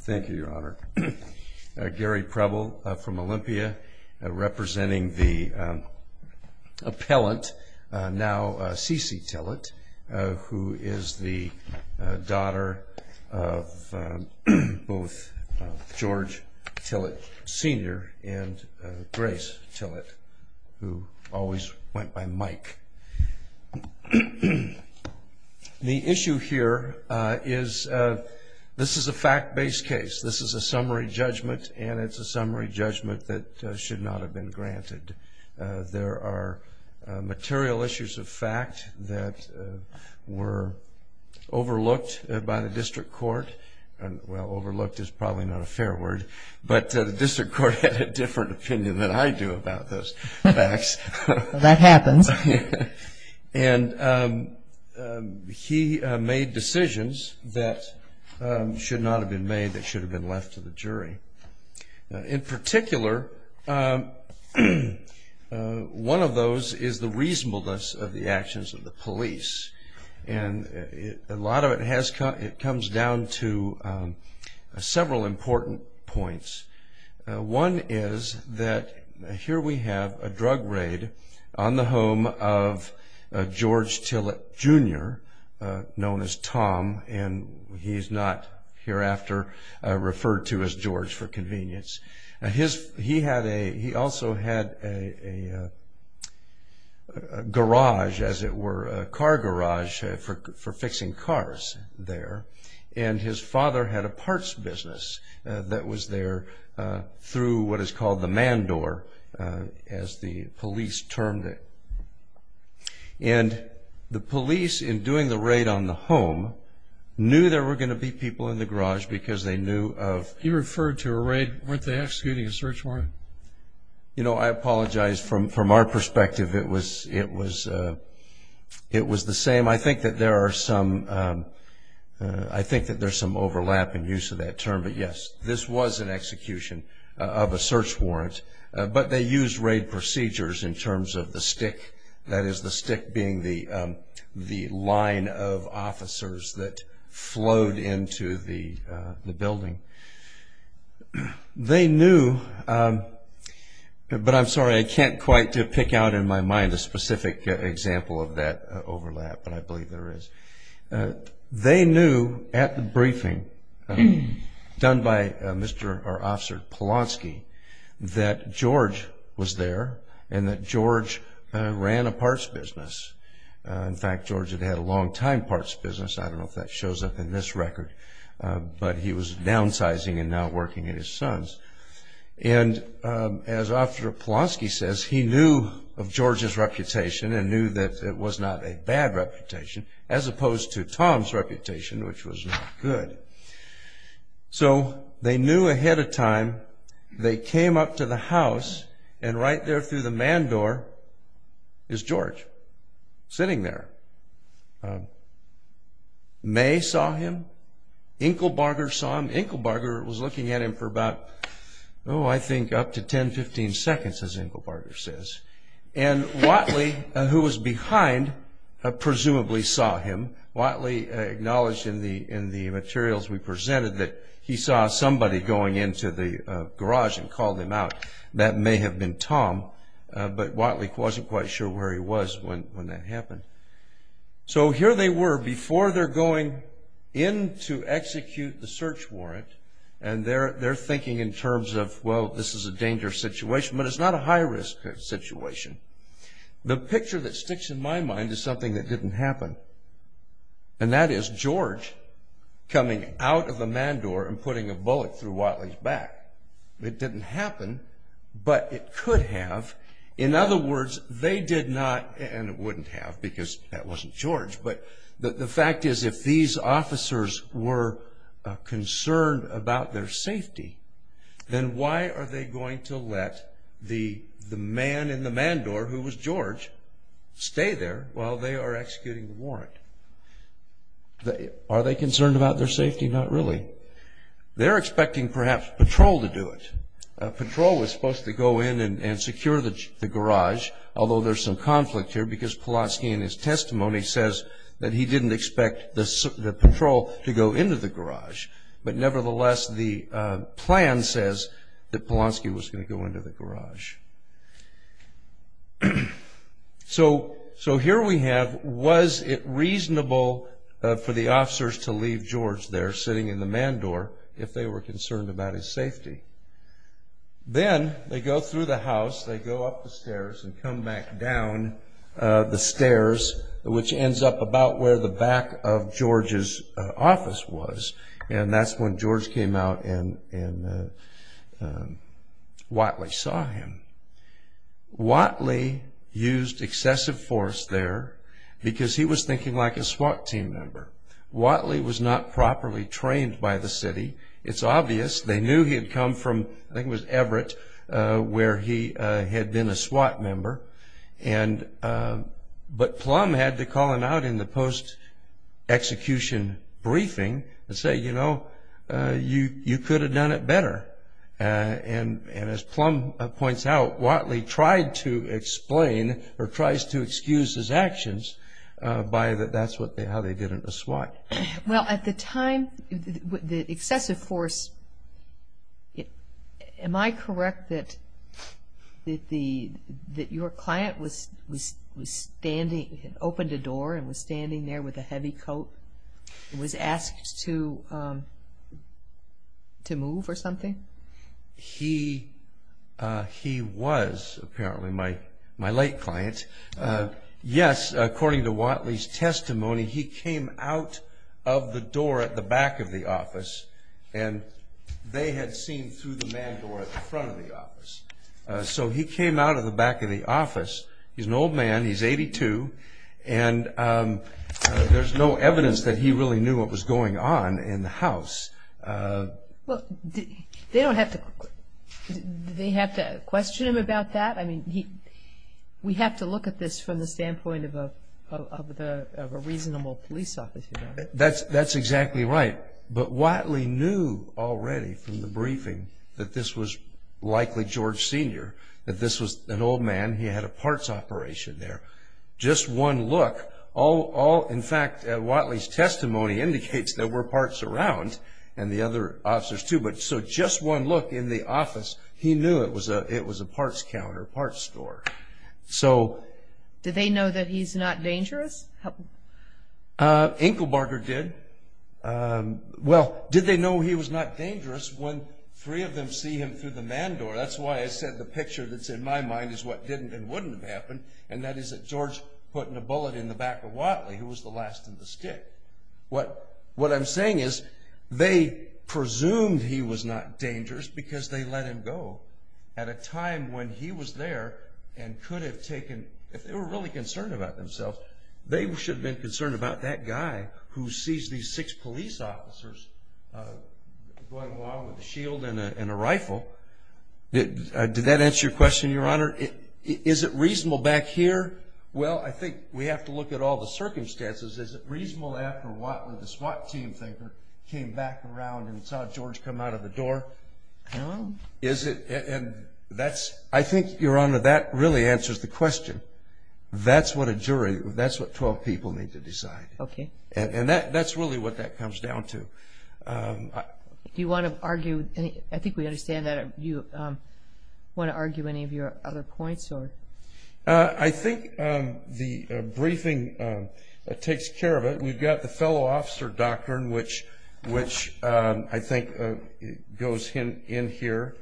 Thank you, Your Honor. Gary Preble from Olympia, representing the appellant, now Cece Tillett, who is the daughter of both George Tillett Sr. and Grace Tillett, who always went by Mike. The issue here is this is a fact-based case. This is a summary judgment, and it's a summary judgment that should not have been granted. There are material issues of fact that were overlooked by the district court. Well, overlooked is probably not a fair word, but the district court had a different opinion than I do about those facts. That happens. And he made decisions that should not have been made that should have been left to the jury. In particular, one of those is the reasonableness of the actions of the police. And a lot of it comes down to several important points. One is that here we have a drug raid on the home of George Tillett Jr., known as Tom, and he's not hereafter referred to as George for convenience. He also had a garage, as it were, a car garage for fixing cars there. And his father had a parts business that was there through what is called the man door, as the police termed it. And the police, in doing the raid on the home, knew there were going to be people in the garage because they knew of... He referred to a raid. Weren't they executing a search warrant? You know, I apologize. From our perspective, it was the same. I think that there are some overlap in use of that term, but yes, this was an execution of a search warrant, but they used raid procedures in terms of the stick. That is, the stick being the line of officers that flowed into the building. They knew, but I'm sorry, I can't quite pick out in my mind a specific example of that overlap, but I believe there is. They knew at the briefing done by Mr. or Officer Polonsky that George was there and that George ran a parts business. In fact, George had had a long-time parts business. I don't know if that shows up in this record, but he was downsizing and now working at his son's. And as Officer Polonsky says, he knew of George's reputation and knew that it was not a bad reputation, as opposed to Tom's reputation, which was not good. So, they knew ahead of time. They came up to the house and right there through the man door is George, sitting there. May saw him. Inkelbarger saw him. Inkelbarger was looking at him for about, oh, I think up to 10, 15 seconds, as Inkelbarger says. And Whatley, who was behind, presumably saw him. Whatley acknowledged in the materials we presented that he saw somebody going into the garage and called him out. That may have been Tom, but Whatley wasn't quite sure where he was when that happened. So, here they were, before they're going in to execute the search warrant, and they're thinking in terms of, well, this is a dangerous situation, but it's not a high-risk situation. The picture that sticks in my mind is something that didn't happen, and that is George coming out of the man door and putting a bullet through Whatley's back. It didn't happen, but it could have. In other words, they did not, and it wouldn't have, because that wasn't George, but the fact is, if these officers were concerned about their safety, then why are they going to let the man in the man door, who was George, stay there while they are executing the warrant? Are they concerned about their safety? Not really. They're expecting, perhaps, patrol to do it. Patrol was supposed to go in and secure the garage, although there's some conflict here, because Pulaski, in his testimony, says that he didn't expect the patrol to go into the garage. But, nevertheless, the plan says that Pulaski was going to go into the garage. So, here we have, was it reasonable for the officers to leave George there, sitting in the man door, if they were concerned about his safety? Then, they go through the house, they go up the stairs, and come back down the stairs, which ends up about where the back of George's office was. That's when George came out and Whatley saw him. Whatley used excessive force there, because he was thinking like a SWAT team member. Whatley was not properly trained by the city. It's obvious. They knew he had come from, I think it was Everett, where he had been a SWAT member. But, Plum had to call him out in the post-execution briefing and say, you know, you could have done it better. As Plum points out, Whatley tried to explain, or tries to excuse his actions, by that's how they did it in the SWAT. Well, at the time, the excessive force, am I correct that your client was standing, opened a door, and was standing there with a heavy coat, and was asked to move or something? He was, apparently, my late client. Yes, according to Whatley's testimony, he came out of the door at the back of the office, and they had seen through the man door at the front of the office. So, he came out of the back of the office. He's an old man, he's 82, and there's no evidence that he really knew what was going on in the house. Well, did they have to question him about that? I mean, we have to look at this from the standpoint of a reasonable police officer. That's exactly right. But, Whatley knew already from the briefing that this was likely George Sr., that this was an old man, he had a parts operation there. Just one look, all, in fact, Whatley's testimony indicates there were parts around, and the other officers too, but just one look in the office, he knew it was a parts counter, parts store. Did they know that he's not dangerous? Inkelbarger did. Well, did they know he was not dangerous when three of them see him through the man door? That's why I said the picture that's in my mind is what didn't and wouldn't have happened, and that is that George put in a bullet in the back of Whatley, who was the last in the stick. What I'm saying is they presumed he was not dangerous because they let him go at a time when he was there and could have taken, if they were really concerned about themselves, they should have been concerned about that guy who sees these six police officers going along with a shield and a rifle. Did that answer your question, Your Honor? Is it reasonable back here? Well, I think we have to look at all the circumstances. Is it reasonable after Whatley, the SWAT team thinker, came back around and saw George come out of the door? No. Is it, and that's, I think, Your Honor, that really answers the question. That's what a jury, that's what 12 people need to decide. Okay. And that's really what that comes down to. Do you want to argue, I think we understand that. Do you want to argue any of your other points? I think the briefing takes care of it. We've got the fellow officer doctrine, which I think goes in here.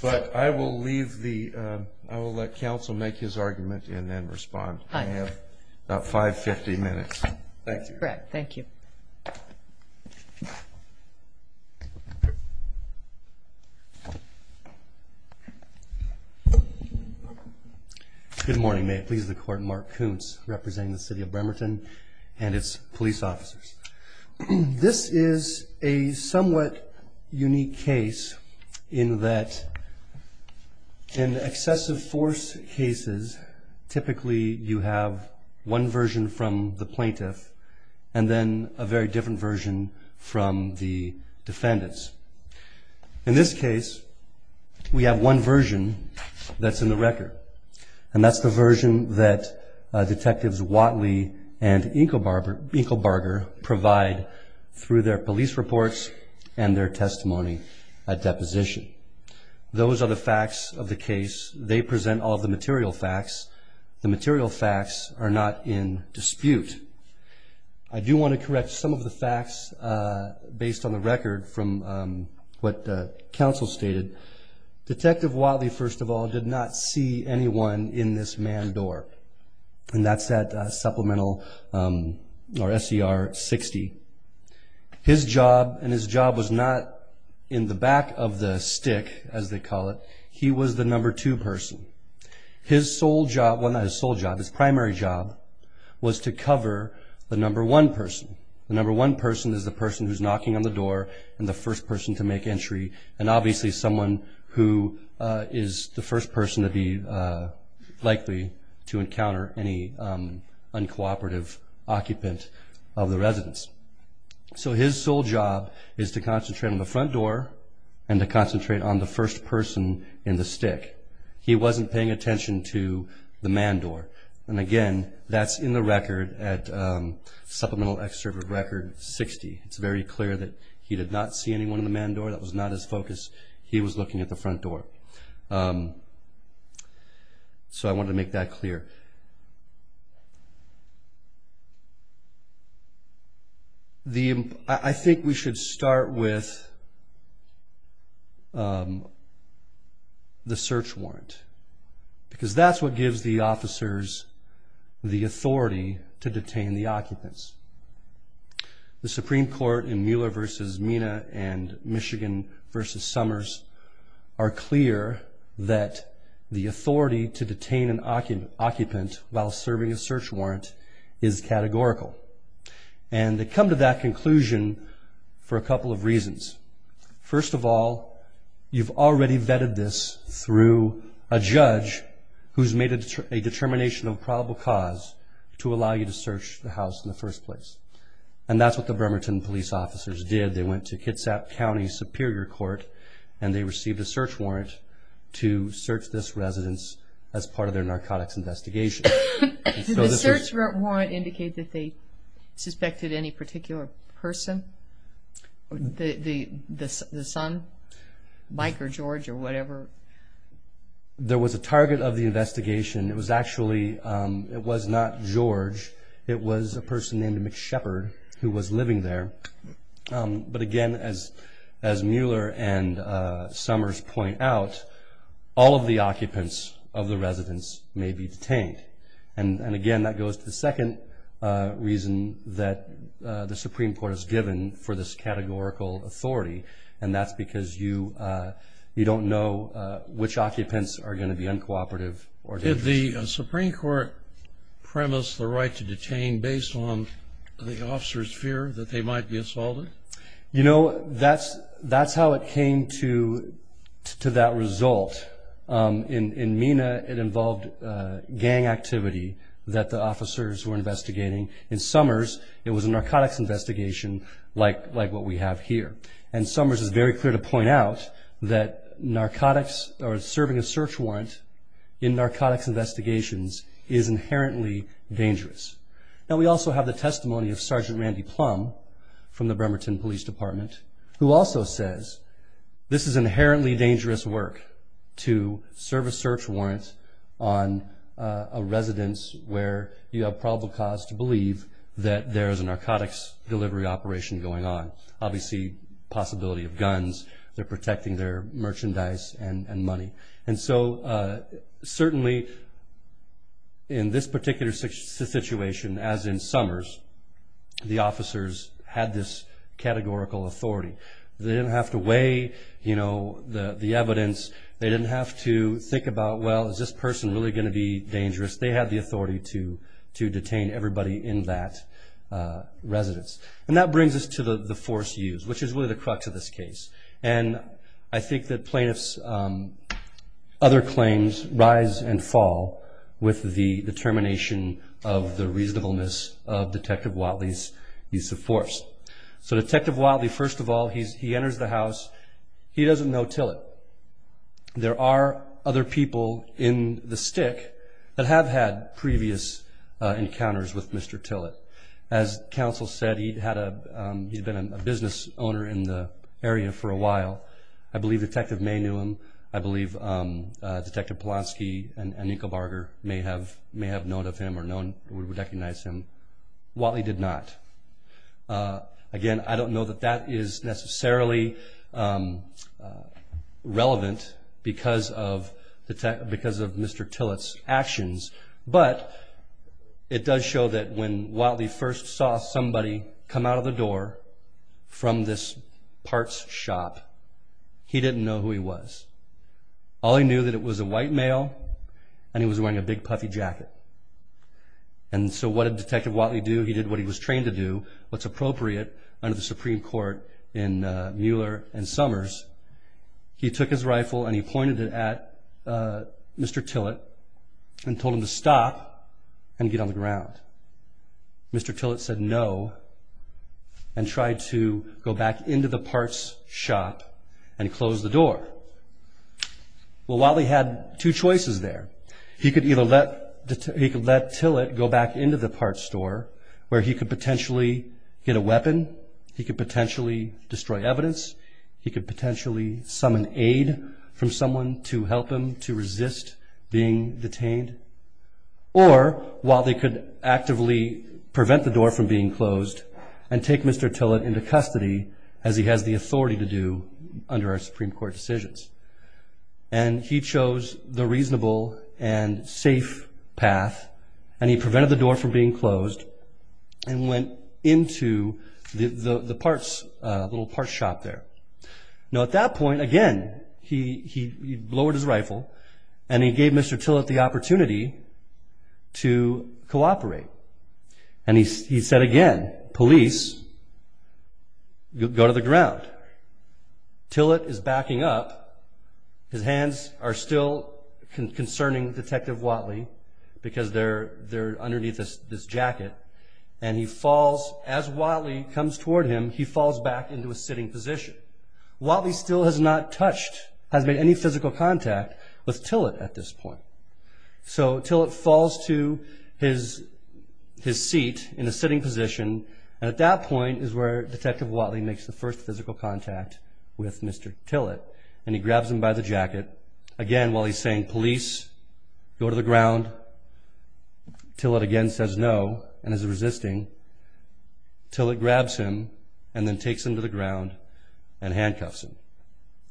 But I will leave the, I will let counsel make his argument and then respond. I have about five-fifty minutes. Thank you. Correct. Thank you. Good morning. May it please the Court. Mark Koontz, representing the City of Bremerton and its police officers. This is a somewhat unique case in that in excessive force cases, typically you have one version from the plaintiff and then a very different version from the defendants. In this case, we have one version that's in the record, and that's the version that Detectives Watley and Inkelbarger provide through their police reports and their testimony at deposition. Those are the facts of the case. They present all the material facts. The material facts are not in dispute. I do want to correct some of the facts based on the record from what counsel stated. Detective Watley, first of all, did not see anyone in this manned door. And that's at supplemental, or SER 60. His job, and his job was not in the back of the stick, as they call it, he was the number two person. His sole job, well not his sole job, his primary job was to cover the number one person. The number one person is the person who's knocking on the door and the first person to make entry. And obviously someone who is the first person to be likely to encounter any uncooperative occupant of the residence. So his sole job is to concentrate on the front door and to concentrate on the first person in the stick. He wasn't paying attention to the manned door. And again, that's in the record at supplemental excerpt of record 60. It's very clear that he did not see anyone in the manned door. That was not his focus. He was looking at the front door. So I wanted to make that clear. I think we should start with the search warrant. Because that's what gives the officers the authority to detain the occupants. The Supreme Court in Mueller versus Mina and Michigan versus Summers are clear that the authority to detain an occupant while serving a search warrant is categorical. And they come to that conclusion for a couple of reasons. First of all, you've already vetted this through a judge who's made a determination of probable cause to allow you to search the house in the first place. And that's what the Bremerton police officers did. They went to Kitsap County Superior Court and they received a search warrant to search this residence as part of their narcotics investigation. Did the search warrant indicate that they suspected any particular person? The son? Mike or George or whatever? There was a target of the investigation. It was actually not George. It was a person named Mick Shepard who was living there. But again, as Mueller and Summers point out, all of the occupants of the residence may be detained. And again, that goes to the second reason that the Supreme Court has given for this categorical authority. And that's because you don't know which occupants are going to be uncooperative. Did the Supreme Court premise the right to detain based on the officers' fear that they might be assaulted? You know, that's how it came to that result. In MENA, it involved gang activity that the officers were investigating. In Summers, it was a narcotics investigation like what we have here. And Summers is very clear to point out that serving a search warrant in narcotics investigations is inherently dangerous. Now, we also have the testimony of Sergeant Randy Plum from the Bremerton Police Department who also says this is inherently dangerous work to serve a search warrant on a residence where you have probable cause to believe that there is a narcotics delivery operation going on. Obviously, possibility of guns. They're protecting their merchandise and money. And so certainly in this particular situation, as in Summers, the officers had this categorical authority. They didn't have to weigh, you know, the evidence. They didn't have to think about, well, is this person really going to be dangerous? They had the authority to detain everybody in that residence. And that brings us to the force used, which is really the crux of this case. And I think that plaintiff's other claims rise and fall with the determination of the reasonableness of Detective Whatley's use of force. So Detective Whatley, first of all, he enters the house. He doesn't know Tillett. There are other people in the stick that have had previous encounters with Mr. Tillett. As counsel said, he had been a business owner in the area for a while. I believe Detective May knew him. I believe Detective Polonsky and Inka Barger may have known of him or would recognize him. Whatley did not. Again, I don't know that that is necessarily relevant because of Mr. Tillett's actions, but it does show that when Whatley first saw somebody come out of the door from this parts shop, he didn't know who he was. All he knew that it was a white male and he was wearing a big puffy jacket. And so what did Detective Whatley do? He did what he was trained to do, what's appropriate under the Supreme Court in Mueller and Summers. He took his rifle and he pointed it at Mr. Tillett and told him to stop and get on the ground. Mr. Tillett said no and tried to go back into the parts shop and close the door. Well, Whatley had two choices there. He could either let Tillett go back into the parts store where he could potentially get a weapon, he could potentially destroy evidence, he could potentially summon aid from someone to help him to resist being detained, or While they could actively prevent the door from being closed and take Mr. Tillett into custody, as he has the authority to do under our Supreme Court decisions. And he chose the reasonable and safe path. And he prevented the door from being closed and went into the little parts shop there. Now at that point, again, he lowered his rifle and he gave Mr. Tillett the opportunity to cooperate. And he said again, police, go to the ground. Tillett is backing up. His hands are still concerning Detective Whatley because they're underneath this jacket. And he falls, as Whatley comes toward him, he falls back into a sitting position. Whatley still has not touched, has made any physical contact with Tillett at this point. So Tillett falls to his seat in a sitting position. And at that point is where Detective Whatley makes the first physical contact with Mr. Tillett. And he grabs him by the jacket, again, while he's saying police, go to the ground. Tillett again says no and is resisting. Tillett grabs him and then takes him to the ground and handcuffs him.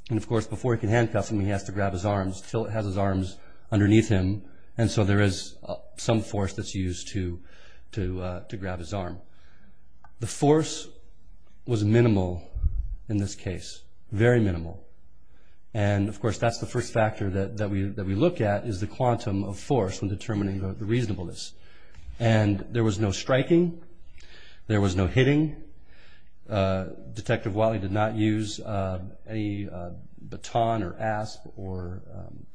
And, of course, before he can handcuff him, he has to grab his arms. Tillett has his arms underneath him. And so there is some force that's used to grab his arm. The force was minimal in this case, very minimal. And, of course, that's the first factor that we look at is the quantum of force when determining the reasonableness. And there was no striking. There was no hitting. Detective Whatley did not use a baton or asp or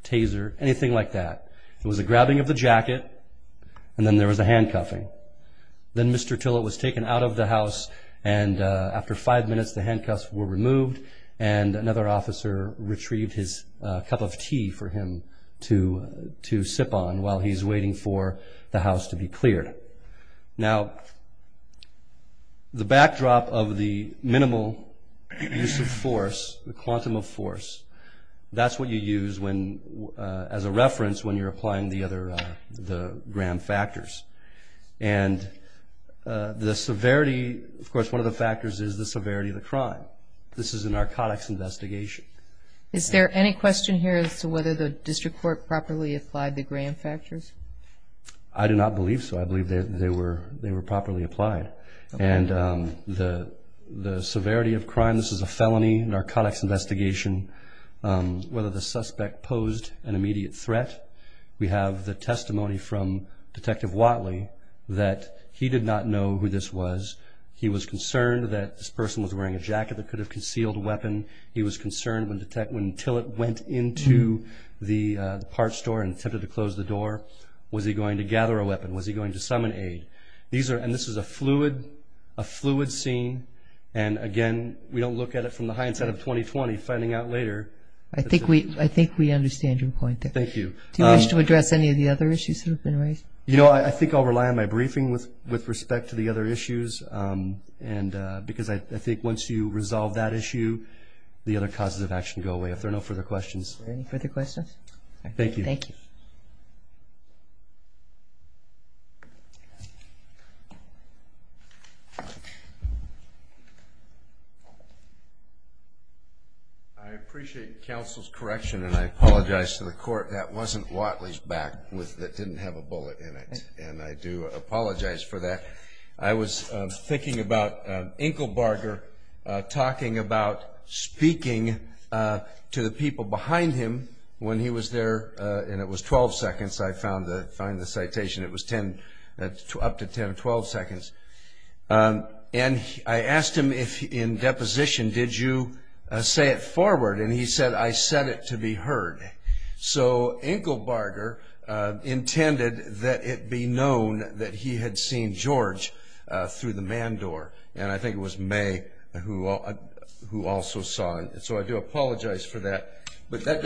taser, anything like that. It was a grabbing of the jacket. And then there was a handcuffing. Then Mr. Tillett was taken out of the house. And after five minutes, the handcuffs were removed. And another officer retrieved his cup of tea for him to sip on while he's waiting for the house to be cleared. Now, the backdrop of the minimal use of force, the quantum of force, that's what you use as a reference when you're applying the other gram factors. And the severity, of course, one of the factors is the severity of the crime. This is a narcotics investigation. Is there any question here as to whether the district court properly applied the gram factors? I do not believe so. I believe they were properly applied. And the severity of crime, this is a felony narcotics investigation, whether the suspect posed an immediate threat. We have the testimony from Detective Whatley that he did not know who this was. He was concerned that this person was wearing a jacket that could have concealed a weapon. He was concerned when Tillett went into the parts store and attempted to close the door, was he going to gather a weapon? Was he going to summon aid? And this is a fluid scene. And, again, we don't look at it from the hindsight of 2020, finding out later. I think we understand your point there. Thank you. Do you wish to address any of the other issues that have been raised? You know, I think I'll rely on my briefing with respect to the other issues, because I think once you resolve that issue, the other causes of action go away. If there are no further questions. Are there any further questions? Thank you. Thank you. I appreciate counsel's correction, and I apologize to the court. That wasn't Whatley's back that didn't have a bullet in it, and I do apologize for that. I was thinking about Enkelbarger talking about speaking to the people behind him when he was there, and it was 12 seconds, I found the citation. It was up to 10 or 12 seconds. And I asked him in deposition, did you say it forward, and he said, I said it to be heard. So Enkelbarger intended that it be known that he had seen George through the man door, and I think it was May who also saw him. So I do apologize for that. But that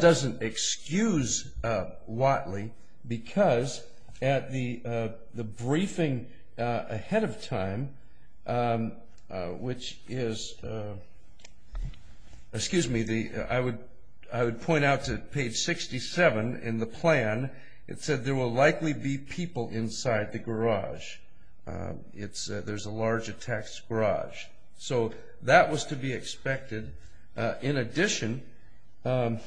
doesn't excuse Whatley, because at the briefing ahead of time, which is, excuse me, I would point out to page 67 in the plan, it said there will likely be people inside the garage. There's a large attacks garage. So that was to be expected. In addition, in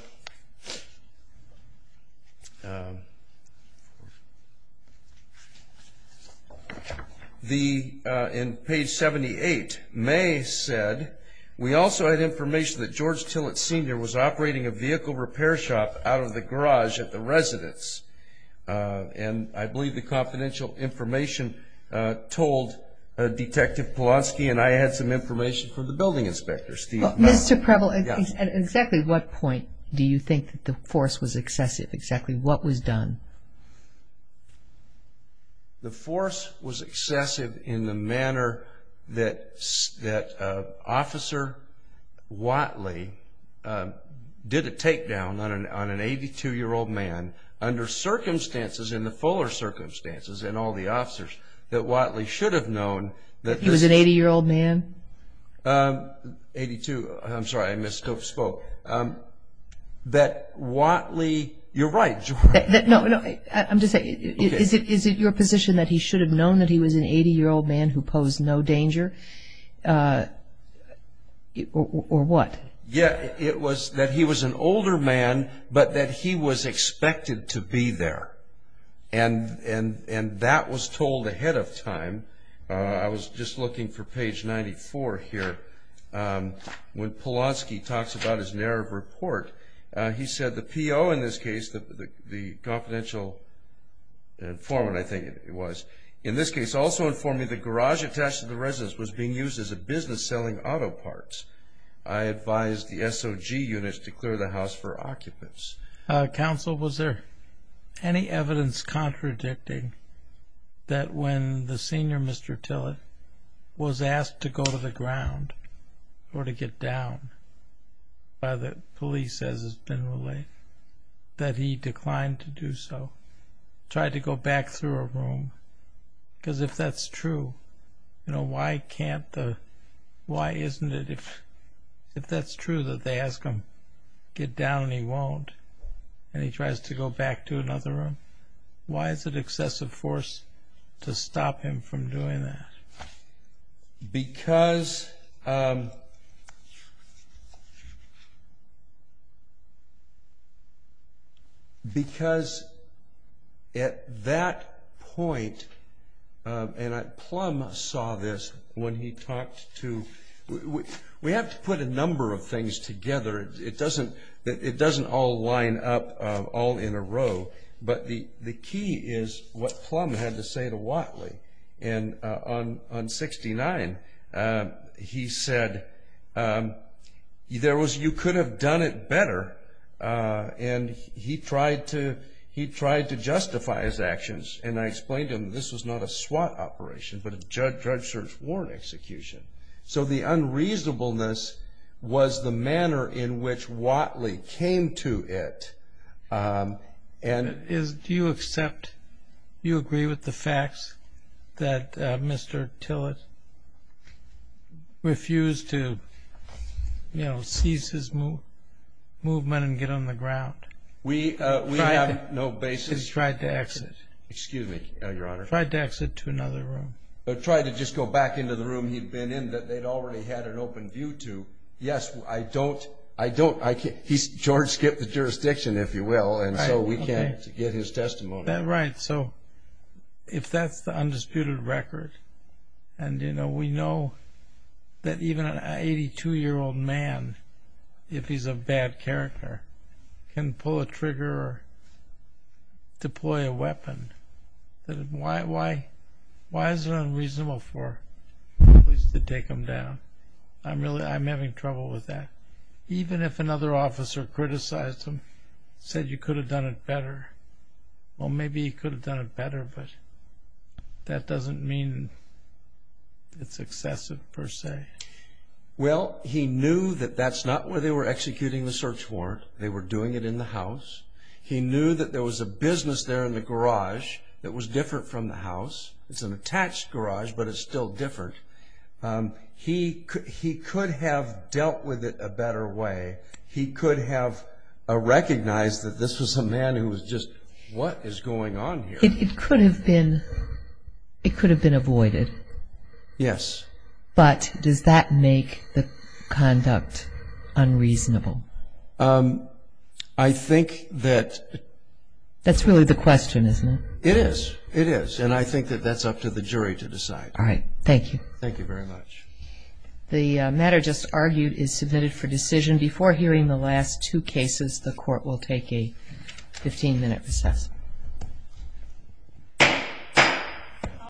page 78, May said, we also had information that George Tillett Sr. was operating a vehicle repair shop out of the garage at the residence. And I believe the confidential information told Detective Polonsky and I had some information from the building inspectors. Mr. Preble, at exactly what point do you think the force was excessive, exactly what was done? The force was excessive in the manner that Officer Whatley did a takedown on an 82-year-old man under circumstances, in the fuller circumstances, and all the officers, that Whatley should have known. He was an 80-year-old man? 82, I'm sorry, I misspoke. That Whatley, you're right, George. No, I'm just saying, is it your position that he should have known that he was an 80-year-old man who posed no danger? Or what? Yeah, it was that he was an older man, but that he was expected to be there. And that was told ahead of time. I was just looking for page 94 here. When Polonsky talks about his narrative report, he said the PO in this case, the confidential informant, I think it was, in this case, also informed me the garage attached to the residence was being used as a business selling auto parts. I advised the SOG units to clear the house for occupants. Counsel, was there any evidence contradicting that when the senior, Mr. Tillett, was asked to go to the ground or to get down by the police, as has been relayed, that he declined to do so, tried to go back through a room? Because if that's true, why can't the, why isn't it, if that's true that they ask him to get down and he won't and he tries to go back to another room, why is it excessive force to stop him from doing that? Because at that point, and Plum saw this when he talked to, we have to put a number of things together. It doesn't all line up all in a row. But the key is what Plum had to say to Watley. And on 69, he said, there was, you could have done it better. And he tried to justify his actions. And I explained to him, this was not a SWAT operation, but a judge search warrant execution. So the unreasonableness was the manner in which Watley came to it Do you accept, do you agree with the facts that Mr. Tillett refused to, you know, cease his movement and get on the ground? We have no basis. He tried to exit. Excuse me, Your Honor. Tried to exit to another room. Tried to just go back into the room he'd been in that they'd already had an open view to. Yes, I don't. George skipped the jurisdiction, if you will, and so we can't get his testimony. Right. So if that's the undisputed record, and, you know, we know that even an 82-year-old man, if he's a bad character, can pull a trigger or deploy a weapon. Why is it unreasonable for police to take him down? I'm having trouble with that. Even if another officer criticized him, said you could have done it better, well, maybe he could have done it better, but that doesn't mean it's excessive per se. Well, he knew that that's not where they were executing the search warrant. They were doing it in the house. He knew that there was a business there in the garage that was different from the house. It's an attached garage, but it's still different. He could have dealt with it a better way. He could have recognized that this was a man who was just, what is going on here? It could have been avoided. Yes. But does that make the conduct unreasonable? I think that... That's really the question, isn't it? It is. It is, and I think that that's up to the jury to decide. All right. Thank you. Thank you very much. The matter just argued is submitted for decision. Before hearing the last two cases, the Court will take a 15-minute recess.